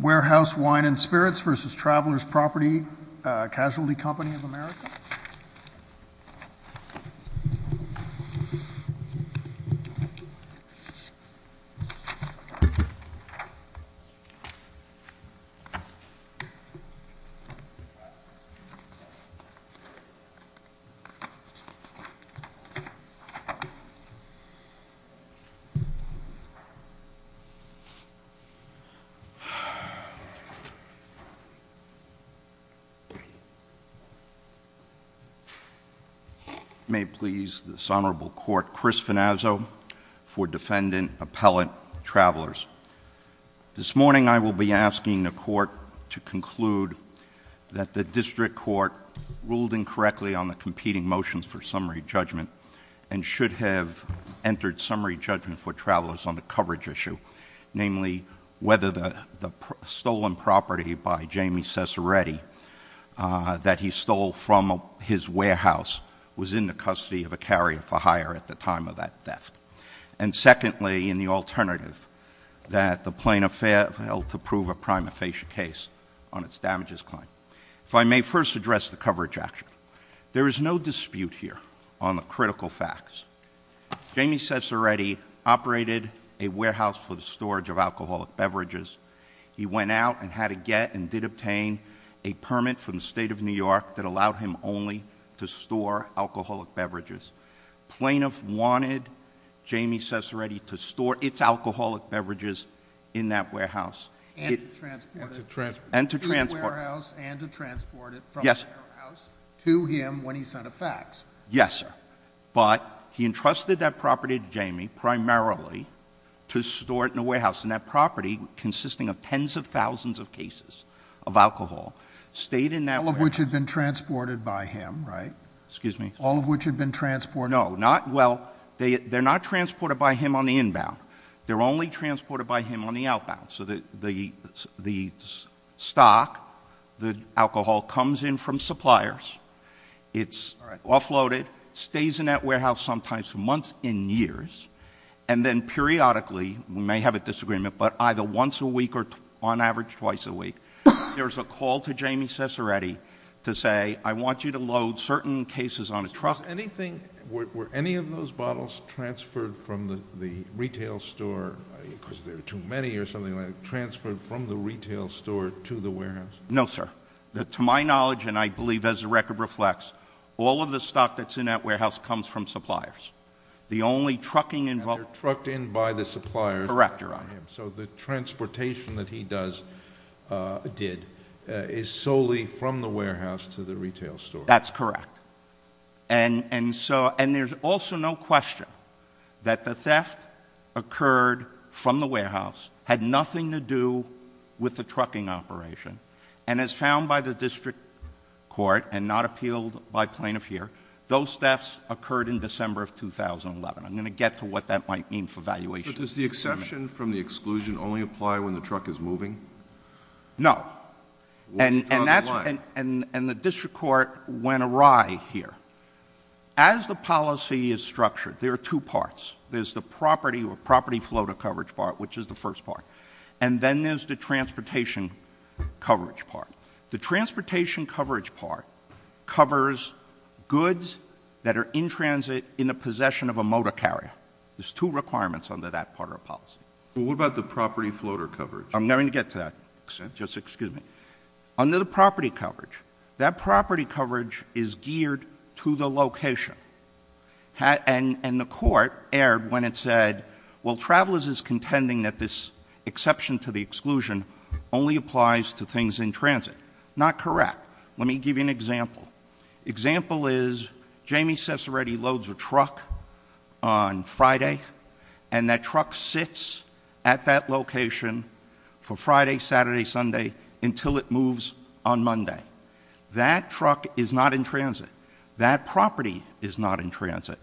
Warehouse Wine and Spirits v. Travelers Property Casualty Company of America May it please this Honorable Court, Chris Finazzo for Defendant Appellate Travelers. This morning I will be asking the Court to conclude that the District Court ruled incorrectly on the competing motions for summary judgment and should have entered summary judgment for the case. If I may first address the coverage action. There is no dispute here on the critical facts. Jamie Ciceretti operated a warehouse for the storage of alcoholic beverages. He went out and had a get and did obtain a permit from the State of New York that allowed him only to store alcoholic beverages. Plaintiff wanted Jamie Ciceretti to store its alcoholic beverages in that warehouse. And to transport it. To the warehouse and to transport it from the warehouse to him when he sent a fax. Yes, sir. But he entrusted that property to Jamie primarily to store it in a warehouse. And that property consisting of tens of thousands of cases of alcohol stayed in that warehouse. All of which had been transported by him, right? Excuse me. All of which had been transported. No. Not, well, they're not transported by him on the inbound. They're only transported by him on the outbound. So the stock, the alcohol, comes in from suppliers. It's offloaded, stays in that warehouse sometimes for months and years. And then periodically, we may have a disagreement, but either once a week or on average twice a week, there's a call to Jamie Ciceretti to say, I want you to load certain cases on a truck. Was anything, were any of those bottles transferred from the retail store, because there are too many or something like that, transferred from the retail store to the warehouse? No, sir. To my knowledge, and I believe as the record reflects, all of the stock that's in that warehouse comes from suppliers. The only trucking involved. And they're trucked in by the suppliers. Correct, Your Honor. So the transportation that he does, did, is solely from the warehouse to the retail store. That's correct. And so, and there's also no question that the theft occurred from the warehouse, had nothing to do with the trucking operation. And as found by the district court, and not appealed by plaintiff here, those thefts occurred in December of 2011. I'm going to get to what that might mean for valuation. But does the exception from the exclusion only apply when the truck is moving? No. And that's, and the district court went awry here. As the policy is structured, there are two parts. There's the property or property floater coverage part, which is the first part. And then there's the transportation coverage part. The transportation coverage part covers goods that are in transit, in the possession of a motor carrier. There's two requirements under that part of our policy. Well, what about the property floater coverage? I'm going to get to that, just excuse me. Under the property coverage, that property coverage is geared to the location. And the court erred when it said, well, Travelers is contending that this exception to the exclusion only applies to things in transit. Not correct. Let me give you an example. Example is, Jamie Cesaretti loads a truck on Friday, and that truck sits at that location for Friday, Saturday, Sunday, until it moves on Monday. That truck is not in transit. That property is not in transit.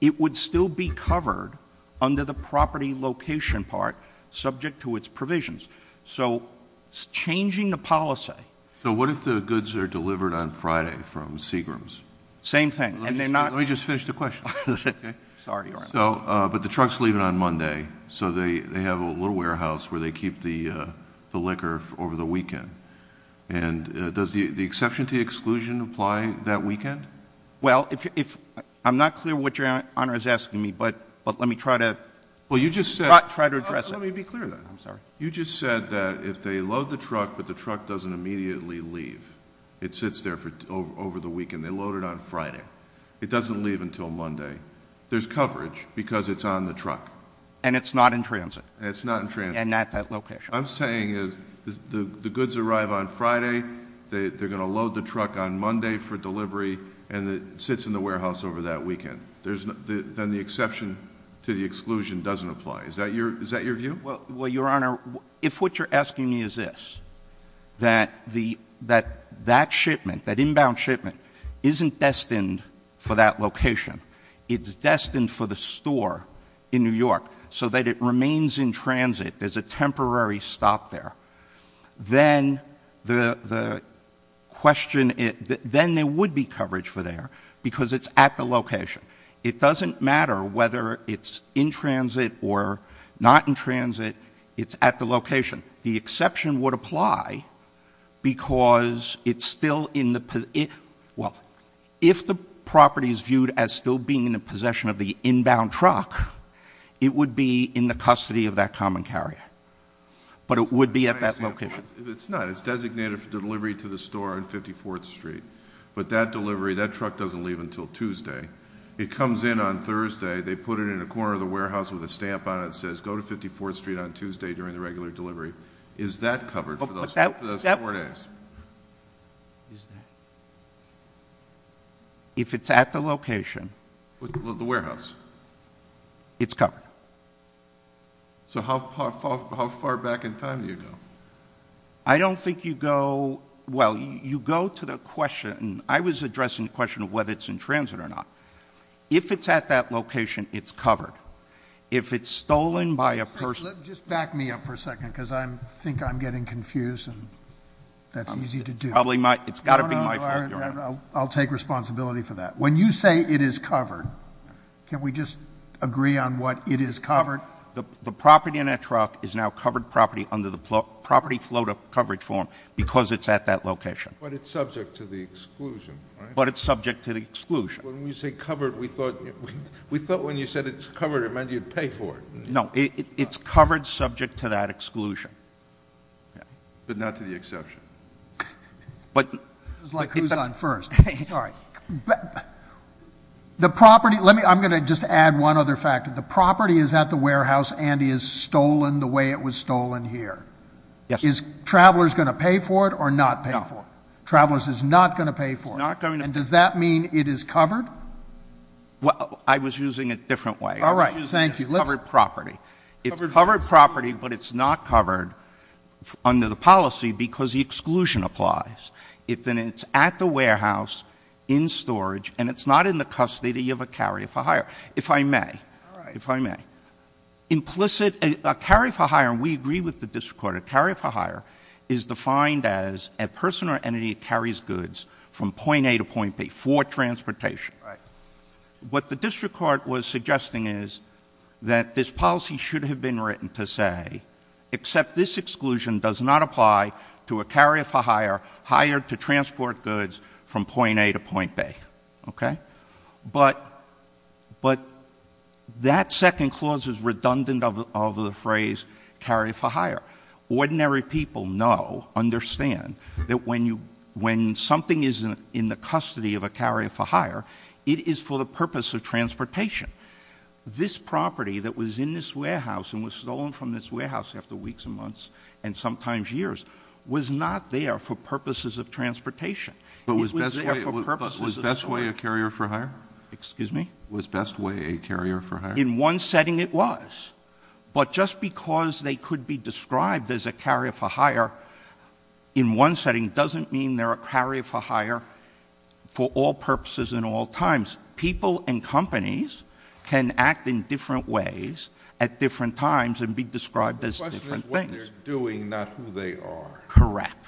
It would still be covered under the property location part, subject to its provisions. So it's changing the policy. So what if the goods are delivered on Friday from Seagram's? Same thing, and they're not- Let me just finish the question. Okay? Sorry, Your Honor. So, but the truck's leaving on Monday. So they have a little warehouse where they keep the liquor over the weekend. And does the exception to the exclusion apply that weekend? Well, I'm not clear what Your Honor is asking me, but let me try to- Well, you just said- Try to address it. Let me be clear then. I'm sorry. You just said that if they load the truck, but the truck doesn't immediately leave, it sits there over the weekend. They load it on Friday. It doesn't leave until Monday. There's coverage, because it's on the truck. And it's not in transit. It's not in transit. And not that location. I'm saying is the goods arrive on Friday, they're going to load the truck on Monday for delivery, and it sits in the warehouse over that weekend. Then the exception to the exclusion doesn't apply. Is that your view? Well, Your Honor, if what you're asking me is this, that that shipment, that inbound shipment, isn't destined for that location. It's destined for the store in New York so that it remains in transit. There's a temporary stop there. Then the question, then there would be coverage for there because it's at the location. It doesn't matter whether it's in transit or not in transit. It's at the location. The exception would apply because it's still in the, well, if the property is viewed as still being in the possession of the inbound truck, it would be in the custody of that common carrier, but it would be at that location. If it's not, it's designated for delivery to the store on 54th Street. But that delivery, that truck doesn't leave until Tuesday. It comes in on Thursday, they put it in a corner of the warehouse with a stamp on it that says go to 54th Street on Tuesday during the regular delivery. Is that covered for those four days? Is that? If it's at the location. With the warehouse? It's covered. So how far back in time do you go? I don't think you go, well, you go to the question, I was addressing the question of whether it's in transit or not. If it's at that location, it's covered. If it's stolen by a person- Just back me up for a second because I think I'm getting confused and that's easy to do. It's got to be my fault, Your Honor. I'll take responsibility for that. When you say it is covered, can we just agree on what it is covered? The property in that truck is now covered property under the property float up coverage form because it's at that location. But it's subject to the exclusion, right? But it's subject to the exclusion. When you say covered, we thought when you said it's covered it meant you'd pay for it. No, it's covered subject to that exclusion. But not to the exception. But- It's like who's on first, sorry. The property, let me, I'm going to just add one other factor. The property is at the warehouse and is stolen the way it was stolen here. Is travelers going to pay for it or not pay for it? Travelers is not going to pay for it. And does that mean it is covered? Well, I was using it a different way. All right, thank you. It's covered property. It's covered property, but it's not covered under the policy because the exclusion applies. It's at the warehouse, in storage, and it's not in the custody of a carrier for hire. If I may, if I may. Implicit, a carrier for hire, and we agree with the district court, a carrier for hire is defined as a person or entity that carries goods from point A to point B for transportation. Right. What the district court was suggesting is that this policy should have been written to say, except this exclusion does not apply to a carrier for hire, hired to transport goods from point A to point B, okay? But that second clause is redundant of the phrase carrier for hire. Ordinary people know, understand, that when something is in the custody of a carrier for hire, it is for the purpose of transportation. This property that was in this warehouse and was stolen from this warehouse after weeks and months, and sometimes years, was not there for purposes of transportation. It was there for purposes of- Was Bestway a carrier for hire? Excuse me? Was Bestway a carrier for hire? In one setting it was. But just because they could be described as a carrier for hire in one setting, doesn't mean they're a carrier for hire for all purposes and all times. People and companies can act in different ways at different times and be described as different things. The question is what they're doing, not who they are. Correct.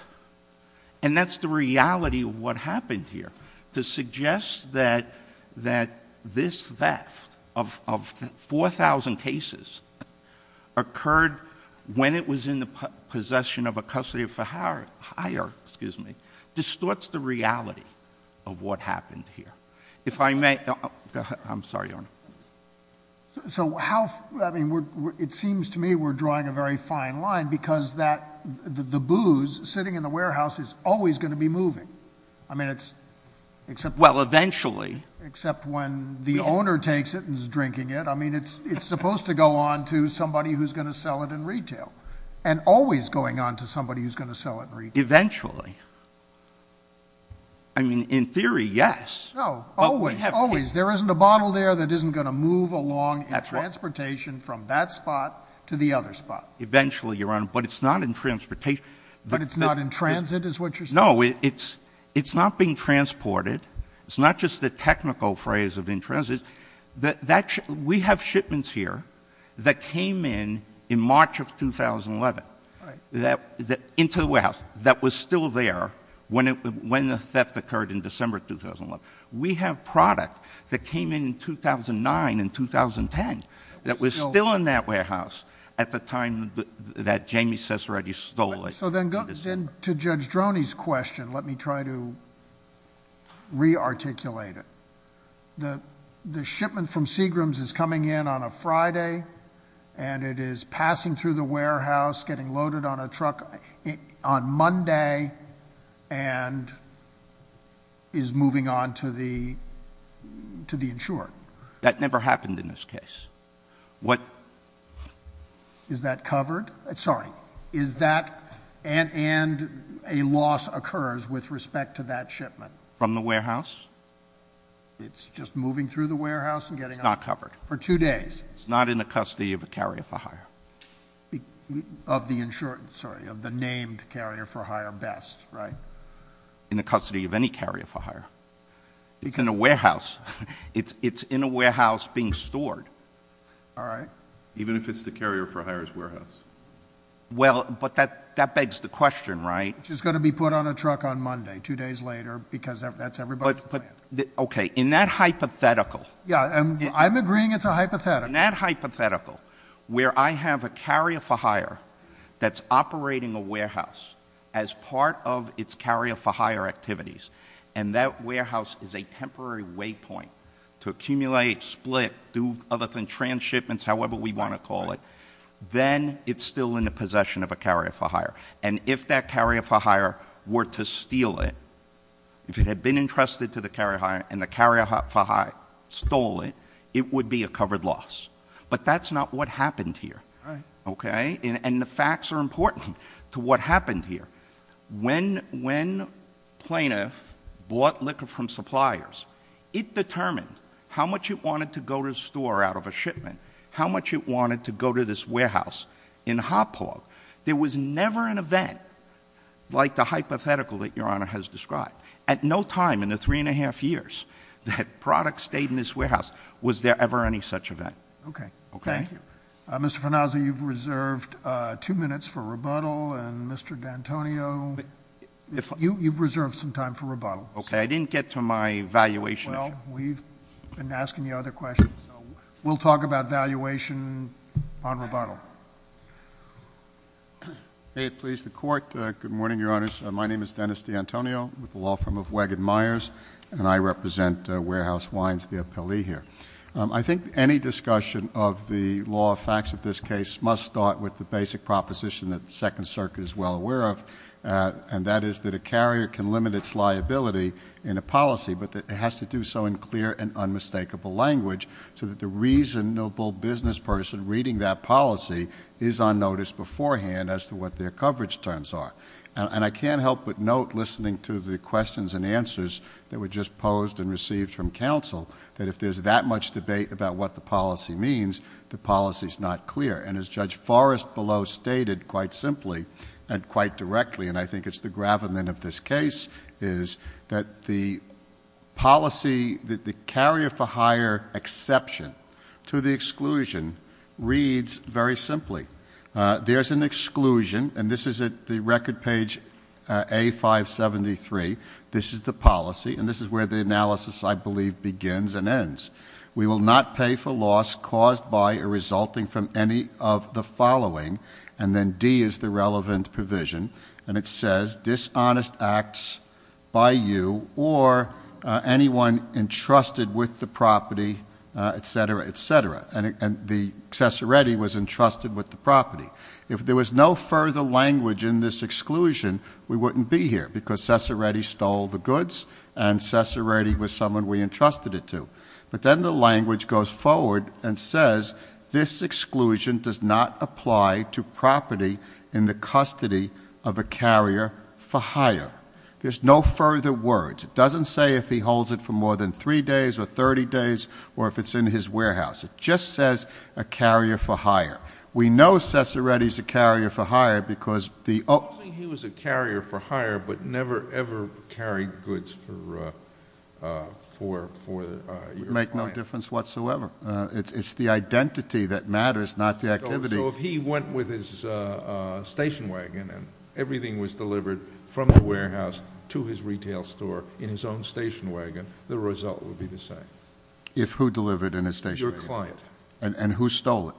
And that's the reality of what happened here. To suggest that this theft of 4,000 cases occurred when it was in the possession of a custodian for hire, distorts the reality of what happened here. If I may, I'm sorry, Your Honor. So how, I mean, it seems to me we're drawing a very fine line because the booze sitting in the warehouse is always going to be moving. I mean, it's except- Well, eventually. Except when the owner takes it and is drinking it. I mean, it's supposed to go on to somebody who's going to sell it in retail. And always going on to somebody who's going to sell it in retail. Eventually. I mean, in theory, yes. No, always, always. There isn't a bottle there that isn't going to move along in transportation from that spot to the other spot. Eventually, Your Honor, but it's not in transportation. But it's not in transit is what you're saying? No, it's not being transported. It's not just the technical phrase of in transit. We have shipments here that came in in March of 2011. Into the warehouse that was still there when the theft occurred in December of 2011. We have product that came in 2009 and 2010 that was still in that warehouse at the time that Jamie Cesaretti stole it. So then to Judge Droney's question, let me try to re-articulate it. The shipment from Seagram's is coming in on a Friday. And it is passing through the warehouse, getting loaded on a truck on Monday. And is moving on to the insurer. That never happened in this case. What? Is that covered? Sorry. Is that, and a loss occurs with respect to that shipment. From the warehouse? It's just moving through the warehouse and getting- It's not covered. For two days. It's not in the custody of a carrier for hire. Of the insured, sorry, of the named carrier for hire best, right? In the custody of any carrier for hire. It's in a warehouse. It's in a warehouse being stored. All right. Even if it's the carrier for hire's warehouse. Well, but that begs the question, right? Which is going to be put on a truck on Monday, two days later, because that's everybody's plan. Okay, in that hypothetical. Yeah, I'm agreeing it's a hypothetical. In that hypothetical, where I have a carrier for hire that's operating a warehouse as part of its carrier for hire activities, and that warehouse is a temporary waypoint to accumulate, split, do other than trans-shipments, however we want to call it. Then it's still in the possession of a carrier for hire. And if that carrier for hire were to steal it, if it had been entrusted to the carrier for hire, and the carrier for hire stole it, it would be a covered loss. But that's not what happened here, okay? And the facts are important to what happened here. When plaintiff bought liquor from suppliers, it determined how much it wanted to go to the store out of a shipment. How much it wanted to go to this warehouse in a hot pot. There was never an event like the hypothetical that your honor has described. At no time in the three and a half years that products stayed in this warehouse was there ever any such event. Okay, thank you. Mr. Farnazzo, you've reserved two minutes for rebuttal, and Mr. D'Antonio, you've reserved some time for rebuttal. Okay, I didn't get to my valuation issue. Well, we've been asking you other questions, so we'll talk about valuation on rebuttal. May it please the court, good morning, your honors. My name is Dennis D'Antonio with the law firm of Wagon Myers, and I represent Warehouse Wines, the appellee here. I think any discussion of the law facts of this case must start with the basic proposition that the Second Circuit is well aware of. And that is that a carrier can limit its liability in a policy, but that it has to do so in clear and unmistakable language, so that the reasonable business person reading that policy is on notice beforehand as to what their coverage terms are. And I can't help but note, listening to the questions and answers that were just posed and that much debate about what the policy means, the policy's not clear. And as Judge Forrest below stated quite simply and quite directly, and I think it's the gravamen of this case, is that the policy that the carrier for higher exception to the exclusion reads very simply. There's an exclusion, and this is at the record page A573, this is the policy, and this is where the analysis, I believe, begins and ends. We will not pay for loss caused by a resulting from any of the following, and then D is the relevant provision. And it says, dishonest acts by you or anyone entrusted with the property, etc., etc., and the accessory was entrusted with the property. If there was no further language in this exclusion, we wouldn't be here, because Sessoretti stole the goods and Sessoretti was someone we entrusted it to. But then the language goes forward and says, this exclusion does not apply to property in the custody of a carrier for hire. There's no further words. It doesn't say if he holds it for more than three days or 30 days, or if it's in his warehouse. It just says a carrier for hire. We know Sessoretti's a carrier for hire because the- I don't think he was a carrier for hire, but never, ever carried goods for your client. Make no difference whatsoever. It's the identity that matters, not the activity. So if he went with his station wagon and everything was delivered from the warehouse to his retail store in his own station wagon, the result would be the same. If who delivered in his station wagon? Your client. And who stole it?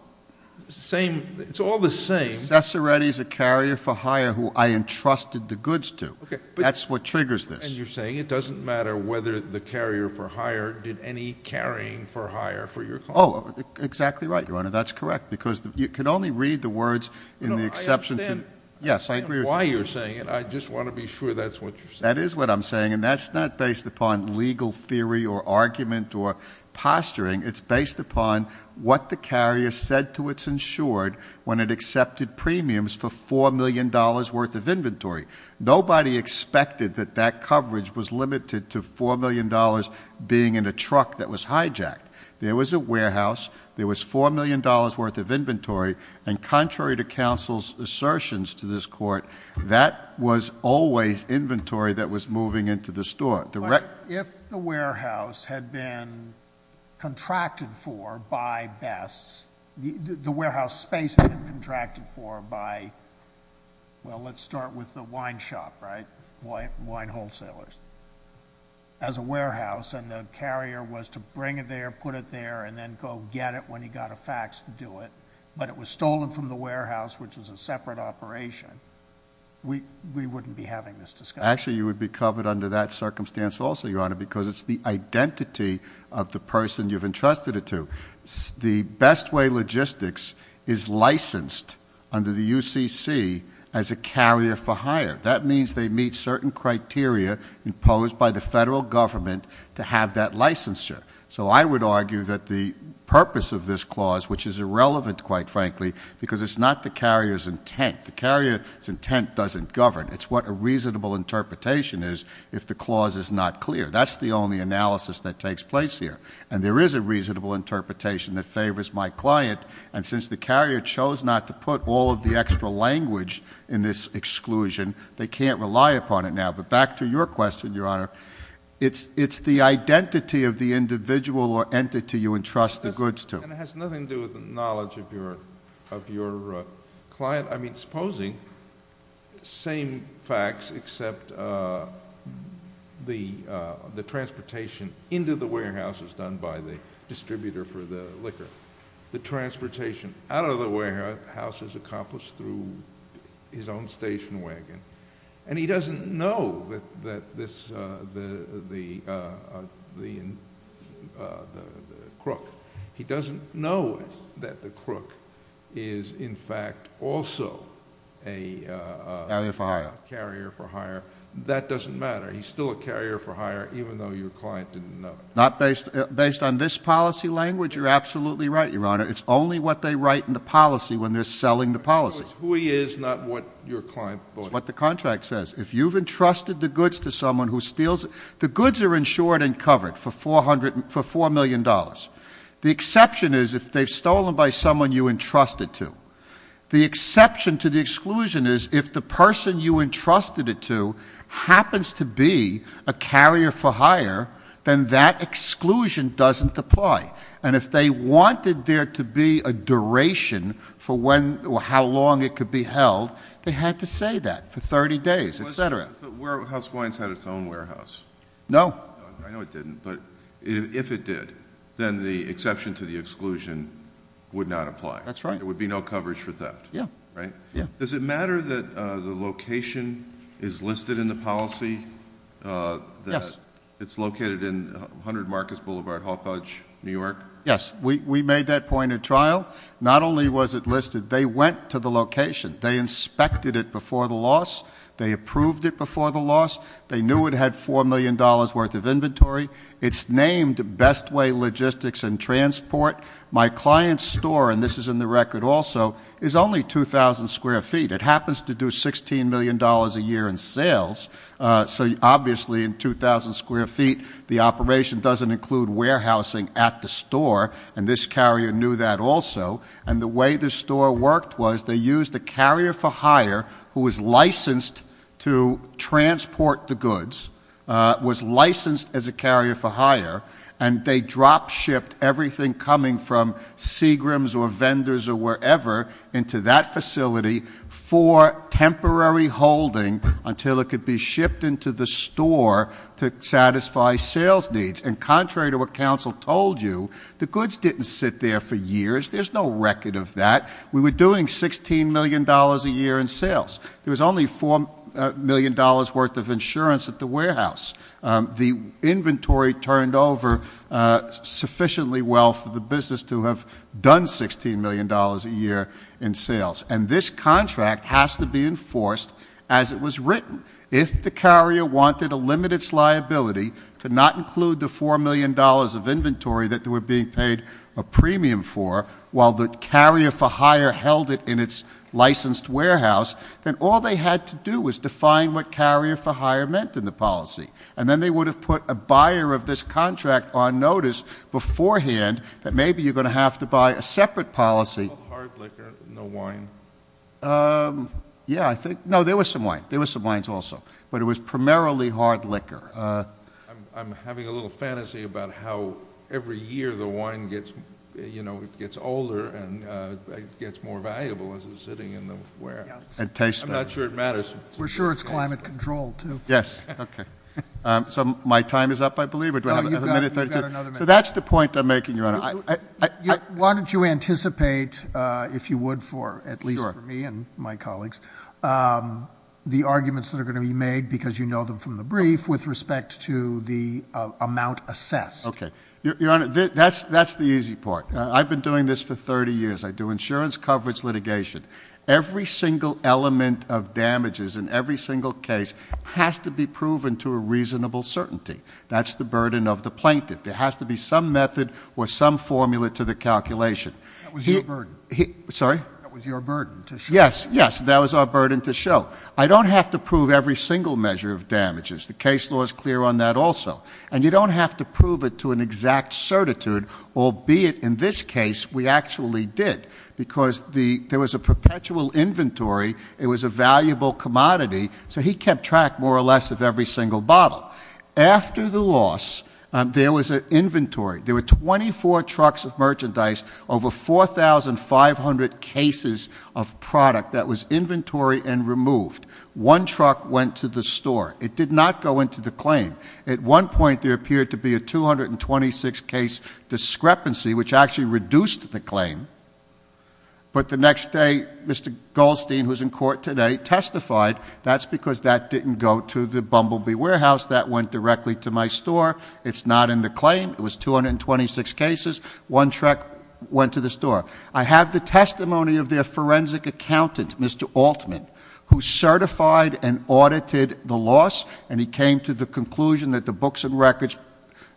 Same, it's all the same. Sessoretti's a carrier for hire who I entrusted the goods to. That's what triggers this. And you're saying it doesn't matter whether the carrier for hire did any carrying for hire for your client. Exactly right, Your Honor, that's correct, because you can only read the words in the exception to- No, I understand. Yes, I agree with you. I don't know why you're saying it, I just want to be sure that's what you're saying. That is what I'm saying, and that's not based upon legal theory or argument or posturing. It's based upon what the carrier said to its insured when it accepted premiums for $4 million worth of inventory. Nobody expected that that coverage was limited to $4 million being in a truck that was hijacked. There was a warehouse, there was $4 million worth of inventory, and contrary to counsel's assertions to this court, that was always inventory that was moving into the store. If the warehouse had been contracted for by Bess, the warehouse space had been contracted for by, well, let's start with the wine shop, right, wine wholesalers, as a warehouse. And the carrier was to bring it there, put it there, and then go get it when he got a fax to do it. But it was stolen from the warehouse, which was a separate operation. We wouldn't be having this discussion. Actually, you would be covered under that circumstance also, Your Honor, because it's the identity of the person you've entrusted it to. The best way logistics is licensed under the UCC as a carrier for hire. That means they meet certain criteria imposed by the federal government to have that licensure. So I would argue that the purpose of this clause, which is irrelevant, quite frankly, because it's not the carrier's intent. The carrier's intent doesn't govern. It's what a reasonable interpretation is if the clause is not clear. That's the only analysis that takes place here. And there is a reasonable interpretation that favors my client. And since the carrier chose not to put all of the extra language in this exclusion, they can't rely upon it now. But back to your question, Your Honor, it's the identity of the individual or entity you entrust the goods to. And it has nothing to do with the knowledge of your client. I mean, supposing, same facts except the transportation into the warehouse is done by the distributor for the liquor. The transportation out of the warehouse is accomplished through his own station wagon. And he doesn't know that this, the crook. He doesn't know that the crook is, in fact, also a- Carrier for hire. Carrier for hire. That doesn't matter. He's still a carrier for hire, even though your client didn't know. Not based on this policy language, you're absolutely right, Your Honor. It's only what they write in the policy when they're selling the policy. It's who he is, not what your client voted. It's what the contract says. If you've entrusted the goods to someone who steals, the goods are insured and covered for $4 million. The exception is if they've stolen by someone you entrusted to. The exception to the exclusion is if the person you entrusted it to happens to be a carrier for hire, then that exclusion doesn't apply. And if they wanted there to be a duration for when or how long it could be held, they had to say that for 30 days, etc. But Warehouse Wines had its own warehouse. No. I know it didn't, but if it did, then the exception to the exclusion would not apply. That's right. There would be no coverage for theft. Yeah. Right? Yeah. Does it matter that the location is listed in the policy? Yes. It's located in 100 Marcus Boulevard, Hall Couch, New York? Yes, we made that point at trial. Not only was it listed, they went to the location. They inspected it before the loss. They approved it before the loss. They knew it had $4 million worth of inventory. It's named Best Way Logistics and Transport. My client's store, and this is in the record also, is only 2,000 square feet. It happens to do $16 million a year in sales. So obviously in 2,000 square feet, the operation doesn't include warehousing at the store. And this carrier knew that also. And the way the store worked was they used a carrier for hire who was licensed to transport the goods. Was licensed as a carrier for hire. And they drop shipped everything coming from Seagram's or vendors or wherever into that facility for temporary holding until it could be shipped into the store to satisfy sales needs. And contrary to what council told you, the goods didn't sit there for years. There's no record of that. We were doing $16 million a year in sales. There was only $4 million worth of insurance at the warehouse. The inventory turned over sufficiently well for the business to have done $16 million a year in sales. And this contract has to be enforced as it was written. If the carrier wanted to limit its liability to not include the $4 million of inventory that they were being paid a premium for, while the carrier for hire held it in its licensed warehouse, then all they had to do was define what carrier for hire meant in the policy. And then they would have put a buyer of this contract on notice beforehand that maybe you're going to have to buy a separate policy. No hard liquor, no wine. Yeah, I think, no, there was some wine. There was some wines also. But it was primarily hard liquor. I'm having a little fantasy about how every year the wine gets older and gets more valuable as it's sitting in the warehouse. I'm not sure it matters. We're sure it's climate controlled too. Yes, okay. So my time is up, I believe, or do I have another minute or two? So that's the point I'm making, Your Honor. Why don't you anticipate, if you would for, at least for me and my colleagues, the arguments that are going to be made, because you know them from the brief, with respect to the amount assessed. Okay, Your Honor, that's the easy part. I've been doing this for 30 years. I do insurance coverage litigation. Every single element of damages in every single case has to be proven to a reasonable certainty. That's the burden of the plaintiff. There has to be some method or some formula to the calculation. That was your burden. Sorry? That was your burden to show. Yes, yes, that was our burden to show. I don't have to prove every single measure of damages. The case law is clear on that also. And you don't have to prove it to an exact certitude, albeit in this case we actually did. Because there was a perpetual inventory, it was a valuable commodity, so he kept track, more or less, of every single bottle. After the loss, there was an inventory. There were 24 trucks of merchandise, over 4,500 cases of product that was inventory and removed. One truck went to the store. It did not go into the claim. At one point, there appeared to be a 226 case discrepancy, which actually reduced the claim. But the next day, Mr. Goldstein, who's in court today, testified. That's because that didn't go to the Bumblebee Warehouse, that went directly to my store. It's not in the claim, it was 226 cases, one truck went to the store. I have the testimony of their forensic accountant, Mr. Altman, who certified and audited the loss. And he came to the conclusion that the books and records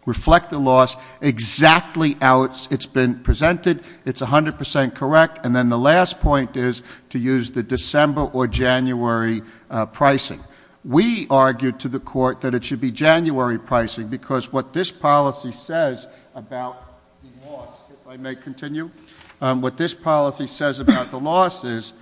reflect the loss exactly how it's been presented. It's 100% correct. And then the last point is to use the December or January pricing. We argued to the court that it should be January pricing, because what this policy says about the loss, if I may continue. What this policy says about the loss is,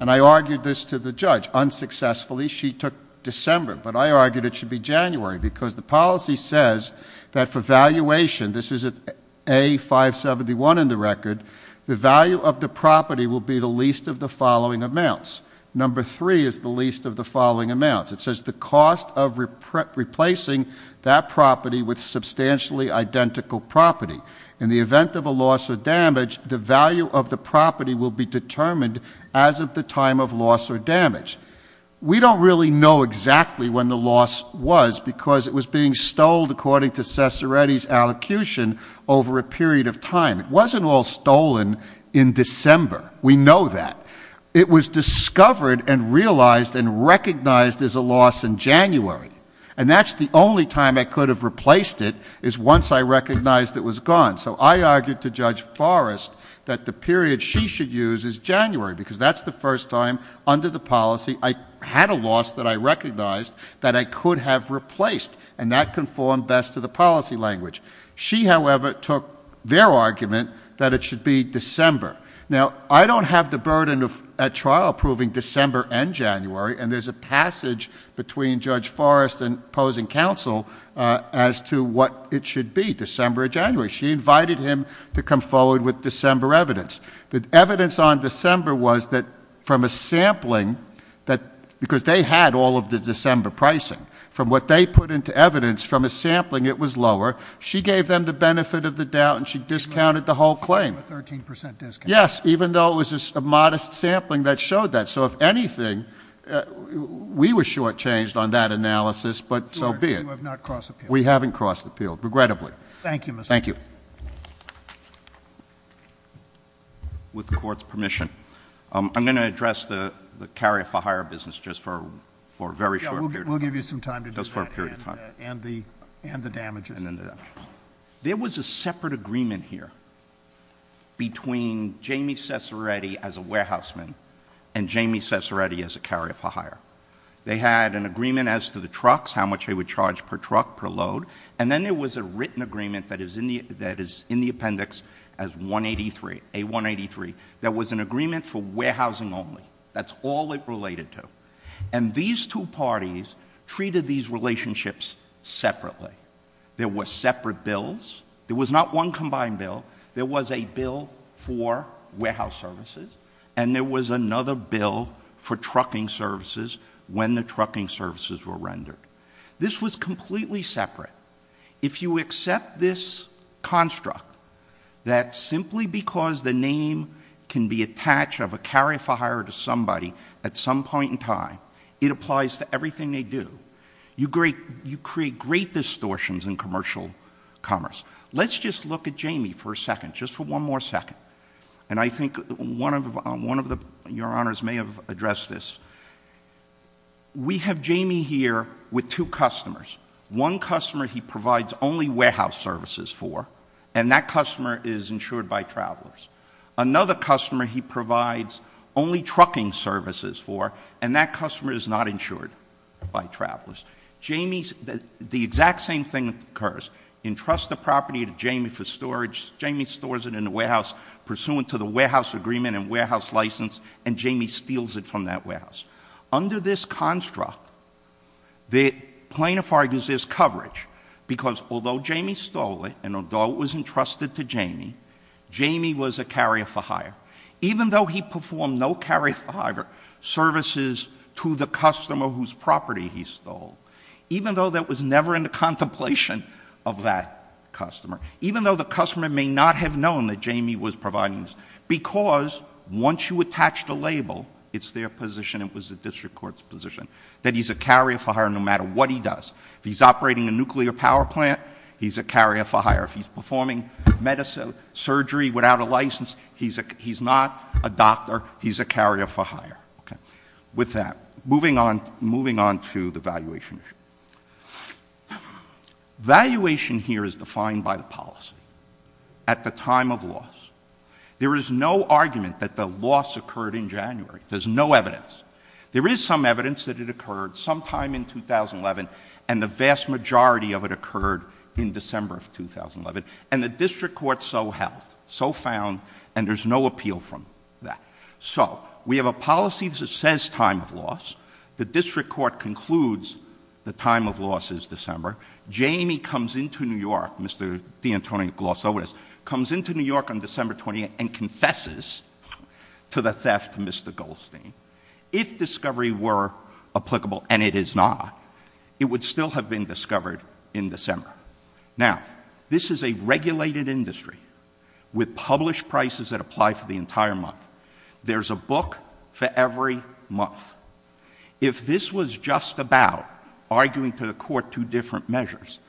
and I argued this to the judge, unsuccessfully, she took December. But I argued it should be January, because the policy says that for valuation, this is A571 in the record. The value of the property will be the least of the following amounts. Number three is the least of the following amounts. It says the cost of replacing that property with substantially identical property. In the event of a loss or damage, the value of the property will be determined as of the time of loss or damage. We don't really know exactly when the loss was, because it was being stolen according to Cesaretti's allocution over a period of time. It wasn't all stolen in December, we know that. It was discovered and realized and recognized as a loss in January. And that's the only time I could have replaced it, is once I recognized it was gone. So I argued to Judge Forrest that the period she should use is January, because that's the first time under the policy, I had a loss that I recognized that I could have replaced, and that conformed best to the policy language. She, however, took their argument that it should be December. Now, I don't have the burden of trial approving December and January, and there's a passage between Judge Forrest and opposing counsel as to what it should be, December or January. She invited him to come forward with December evidence. The evidence on December was that from a sampling, because they had all of the December pricing. From what they put into evidence, from a sampling it was lower. She gave them the benefit of the doubt, and she discounted the whole claim. A 13% discount. Yes, even though it was a modest sampling that showed that. So if anything, we were shortchanged on that analysis, but so be it. You have not crossed the field. We haven't crossed the field, regrettably. Thank you, Mr. Chairman. Thank you. With the court's permission, I'm going to address the carrier for hire business just for a very short period of time. We'll give you some time to do that. Just for a period of time. And the damages. And then the damages. There was a separate agreement here between Jamie Cesaretti as a warehouse man and Jamie Cesaretti as a carrier for hire. They had an agreement as to the trucks, how much they would charge per truck, per load. And then there was a written agreement that is in the appendix as 183, A183. That was an agreement for warehousing only. That's all it related to. And these two parties treated these relationships separately. There were separate bills. There was not one combined bill. There was a bill for warehouse services. And there was another bill for trucking services when the trucking services were rendered. This was completely separate. If you accept this construct, that simply because the name can be attached of a carrier for hire to somebody at some point in time, it applies to everything they do. You create great distortions in commercial commerce. Let's just look at Jamie for a second, just for one more second. And I think one of your honors may have addressed this. We have Jamie here with two customers. One customer he provides only warehouse services for, and that customer is insured by travelers. Another customer he provides only trucking services for, and that customer is not insured by travelers. Jamie's, the exact same thing occurs. Entrust the property to Jamie for storage. Jamie stores it in the warehouse pursuant to the warehouse agreement and warehouse license, and Jamie steals it from that warehouse. Under this construct, the plaintiff argues there's coverage, because although Jamie stole it, and although it was entrusted to Jamie, Jamie was a carrier for hire, even though he performed no carrier for hire services to the customer whose property he stole, even though that was never in the contemplation of that customer, even though the customer may not have known that Jamie was providing this, because once you attach the label, it's their position, it was the district court's position, that he's a carrier for hire no matter what he does. If he's operating a nuclear power plant, he's a carrier for hire. If he's performing medicine, surgery without a license, he's not a doctor, he's a carrier for hire, okay? With that, moving on to the valuation issue. Valuation here is defined by the policy at the time of loss. There is no argument that the loss occurred in January, there's no evidence. There is some evidence that it occurred sometime in 2011, and the vast majority of it occurred in December of 2011. And the district court so held, so found, and there's no appeal from that. So, we have a policy that says time of loss, the district court concludes the time of loss is December. Jamie comes into New York, Mr. DeAntonio Glossovis, comes into New York on December 20th and confesses to the theft to Mr. Goldstein. If discovery were applicable, and it is not, it would still have been discovered in December. Now, this is a regulated industry with published prices that apply for the entire month. There's a book for every month. If this was just about arguing to the court two different measures,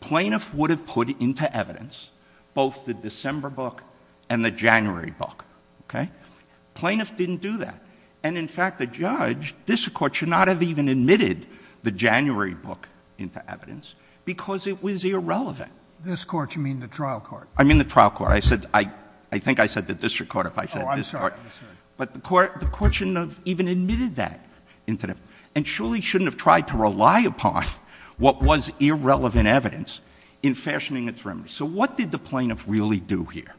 plaintiff would have put into evidence both the December book and the January book, okay? Plaintiff didn't do that. And in fact, the judge, district court should not have even admitted the January book into evidence because it was irrelevant. This court, you mean the trial court? I mean the trial court. I said, I think I said the district court if I said this court. I'm sorry, I'm sorry. But the court shouldn't have even admitted that incident. And surely shouldn't have tried to rely upon what was irrelevant evidence in fashioning its remedy. So what did the plaintiff really do here?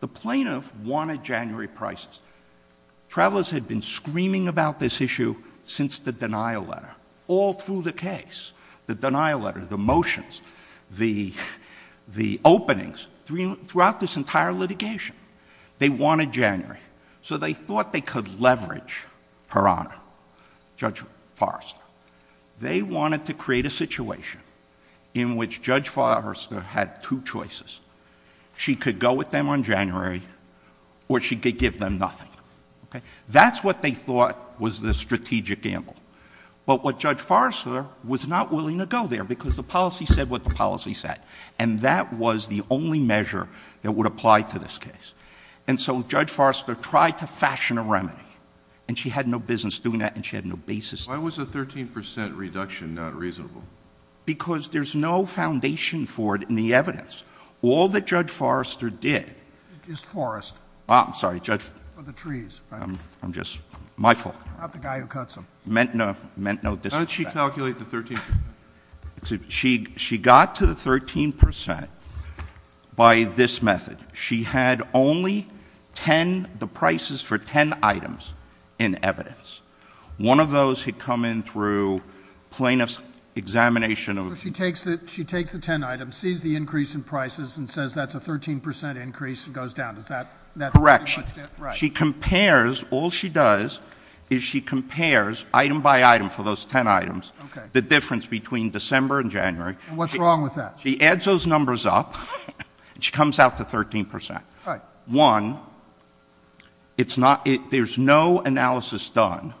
The plaintiff wanted January prices. Travelers had been screaming about this issue since the denial letter, all through the case. The denial letter, the motions, the openings, throughout this entire litigation. They wanted January. So they thought they could leverage her honor, Judge Forrester. They wanted to create a situation in which Judge Forrester had two choices. She could go with them on January or she could give them nothing, okay? That's what they thought was the strategic gamble. But what Judge Forrester was not willing to go there because the policy said what the policy said. And that was the only measure that would apply to this case. And so Judge Forrester tried to fashion a remedy. And she had no business doing that and she had no basis. Why was a 13% reduction not reasonable? Because there's no foundation for it in the evidence. All that Judge Forrester did. Is forest. I'm sorry, Judge. For the trees, right? I'm just, my fault. Not the guy who cuts them. Meant no disrespect. How did she calculate the 13%? She got to the 13% by this method. She had only ten, the prices for ten items in evidence. One of those had come in through plaintiff's examination of- So she takes the ten items, sees the increase in prices, and says that's a 13% increase and goes down. Does that- Correction. She compares, all she does is she compares item by item for those ten items. The difference between December and January. And what's wrong with that? She adds those numbers up and she comes out to 13%. One, it's not, there's no analysis done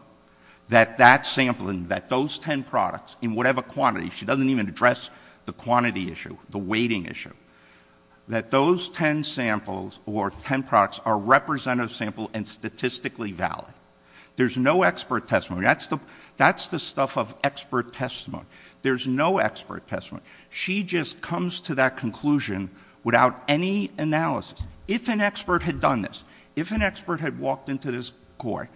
that that sampling, that those ten products in whatever quantity, she doesn't even address the quantity issue, the weighting issue, that those ten samples or ten products are representative sample and statistically valid. There's no expert testimony. That's the stuff of expert testimony. There's no expert testimony. She just comes to that conclusion without any analysis. If an expert had done this, if an expert had walked into this court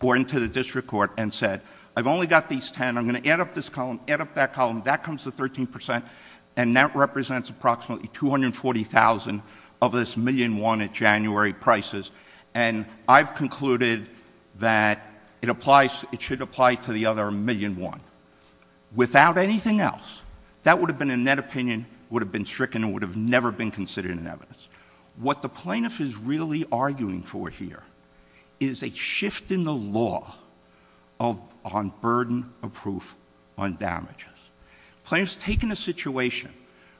or into the district court and said, I've only got these ten, I'm going to add up this column, add up that column. That comes to 13% and that represents approximately 240,000 of this million won at January prices. And I've concluded that it applies, it should apply to the other million won. Without anything else, that would have been a net opinion, would have been stricken, and would have never been considered an evidence. What the plaintiff is really arguing for here is a shift in the law on burden of proof on damages. Plaintiffs take in a situation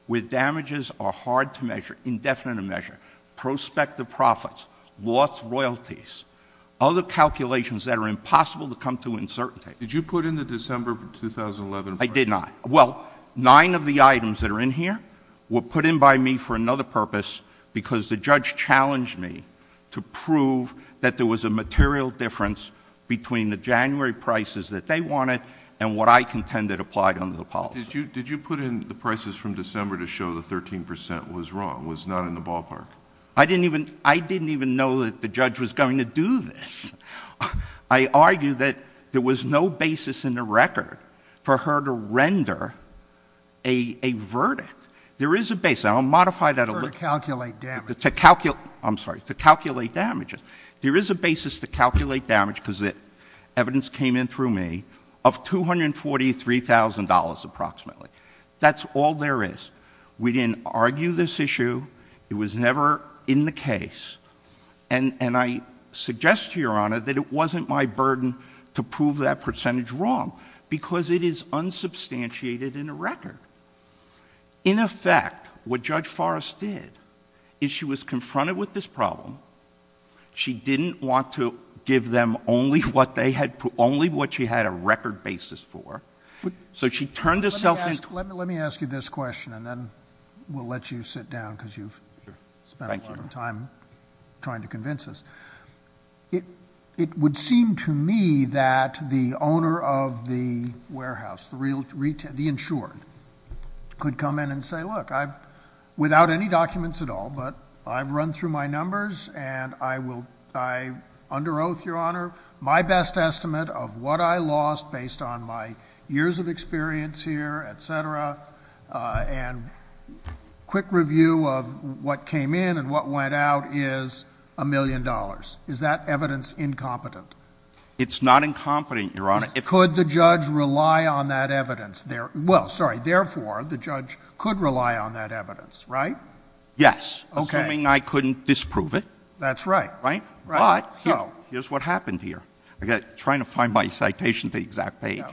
where damages are hard to measure, indefinite to measure, prospective profits, lost royalties, other calculations that are impossible to come to uncertainty. Did you put in the December 2011 price? I did not. Well, nine of the items that are in here were put in by me for another purpose because the judge challenged me to prove that there was a material difference between the January prices that they wanted and what I contended applied under the policy. Did you put in the prices from December to show that 13% was wrong, was not in the ballpark? I didn't even know that the judge was going to do this. I argue that there was no basis in the record for her to render a verdict. There is a basis, I'll modify that a little. For her to calculate damages. To calculate, I'm sorry, to calculate damages. There is a basis to calculate damage because evidence came in through me of $243,000 approximately. That's all there is. We didn't argue this issue. It was never in the case. And I suggest to your honor that it wasn't my burden to prove that percentage wrong. Because it is unsubstantiated in the record. In effect, what Judge Forrest did, is she was confronted with this problem. She didn't want to give them only what they had put, only what she had a record basis for. So she turned herself in. Let me ask you this question, and then we'll let you sit down because you've spent a lot of time trying to convince us. It would seem to me that the owner of the warehouse, the insured, could come in and say, look, without any documents at all, but I've run through my numbers and I under oath, your honor, my best estimate of what I lost based on my years of experience here, etc. And quick review of what came in and what went out is a million dollars. Is that evidence incompetent? It's not incompetent, your honor. Could the judge rely on that evidence? Well, sorry, therefore, the judge could rely on that evidence, right? Yes, assuming I couldn't disprove it. That's right. Right? But, here's what happened here. I'm trying to find my citation to the exact page.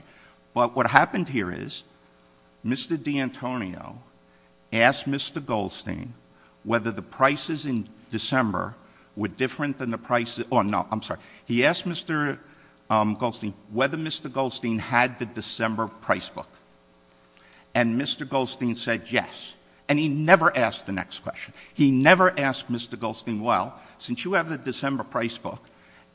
But what happened here is, Mr. D'Antonio asked Mr. Goldstein whether the prices in December were different than the prices, no, I'm sorry. He asked Mr. Goldstein whether Mr. Goldstein had the December price book. And Mr. Goldstein said yes. And he never asked the next question. He never asked Mr. Goldstein, well, since you have the December price book,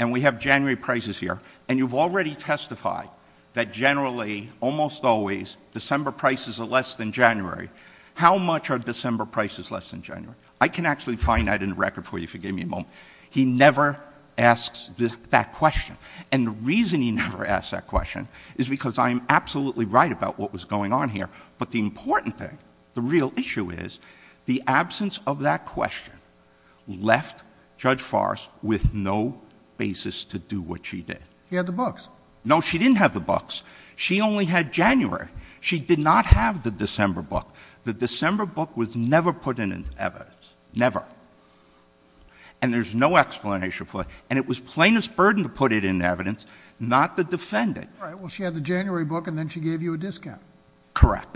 and we have January prices here, and you've already testified that generally, almost always, December prices are less than January. How much are December prices less than January? I can actually find that in the record for you if you give me a moment. He never asked that question. And the reason he never asked that question is because I am absolutely right about what was going on here. But the important thing, the real issue is, the absence of that question left Judge Forrest with no basis to do what she did. He had the books. No, she didn't have the books. She only had January. She did not have the December book. The December book was never put in evidence. Never. And there's no explanation for it. And it was plaintiff's burden to put it in evidence, not to defend it. All right, well, she had the January book, and then she gave you a discount. Correct.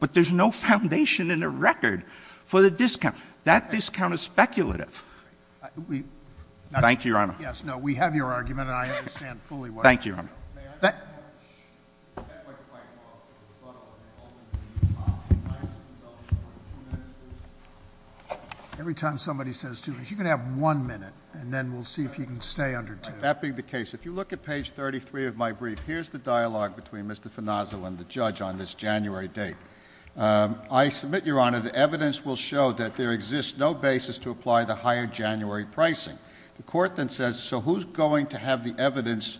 But there's no foundation in the record for the discount. That discount is speculative. Thank you, Your Honor. Yes, no, we have your argument, and I understand fully why. Thank you, Your Honor. May I ask a question? That went quite far for the rebuttal, and ultimately the top. Can I have some time for two minutes, please? Every time somebody says two minutes, you can have one minute, and then we'll see if you can stay under two. That being the case, if you look at page 33 of my brief, here's the dialogue between Mr. Fonaso and the judge on this January date. I submit, Your Honor, the evidence will show that there exists no basis to apply the higher January pricing. The court then says, so who's going to have the evidence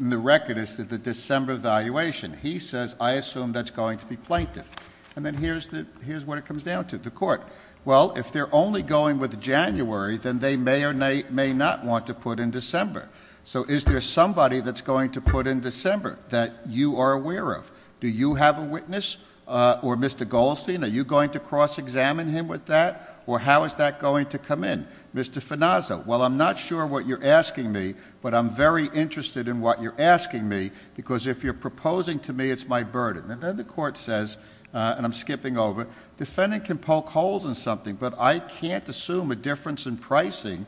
in the record as to the December valuation? He says, I assume that's going to be plaintiff. And then here's what it comes down to, the court. Well, if they're only going with January, then they may or may not want to put in December. So is there somebody that's going to put in December that you are aware of? Do you have a witness, or Mr. Goldstein, are you going to cross-examine him with that? Or how is that going to come in? Mr. Fonaso, well, I'm not sure what you're asking me, but I'm very interested in what you're asking me. Because if you're proposing to me, it's my burden. And then the court says, and I'm skipping over, defendant can poke holes in something, but I can't assume a difference in pricing.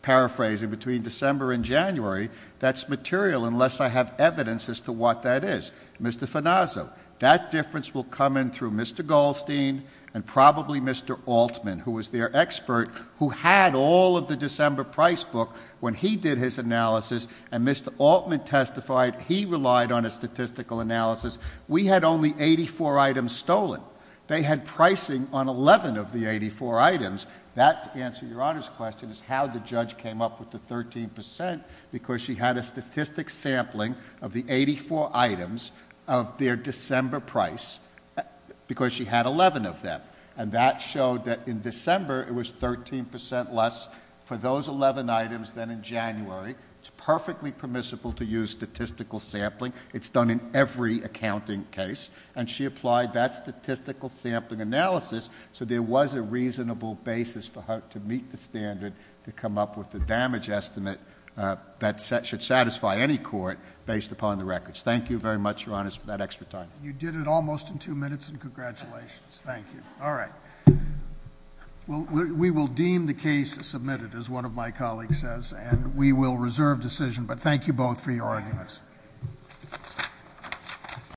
Paraphrasing between December and January, that's material unless I have evidence as to what that is. Mr. Fonaso, that difference will come in through Mr. Goldstein and probably Mr. Altman, who was their expert, who had all of the December price book when he did his analysis. And Mr. Altman testified, he relied on a statistical analysis. We had only 84 items stolen. They had pricing on 11 of the 84 items. That, to answer your Honor's question, is how the judge came up with the 13%. Because she had a statistic sampling of the 84 items of their December price, because she had 11 of them. And that showed that in December, it was 13% less for those 11 items than in January. It's perfectly permissible to use statistical sampling. It's done in every accounting case. And she applied that statistical sampling analysis, so there was a reasonable basis for how to meet the standard to come up with the damage estimate that should satisfy any court based upon the records. Thank you very much, Your Honor, for that extra time. You did it almost in two minutes, and congratulations. Thank you. All right, we will deem the case submitted, as one of my colleagues says, and we will reserve decision. But thank you both for your arguments.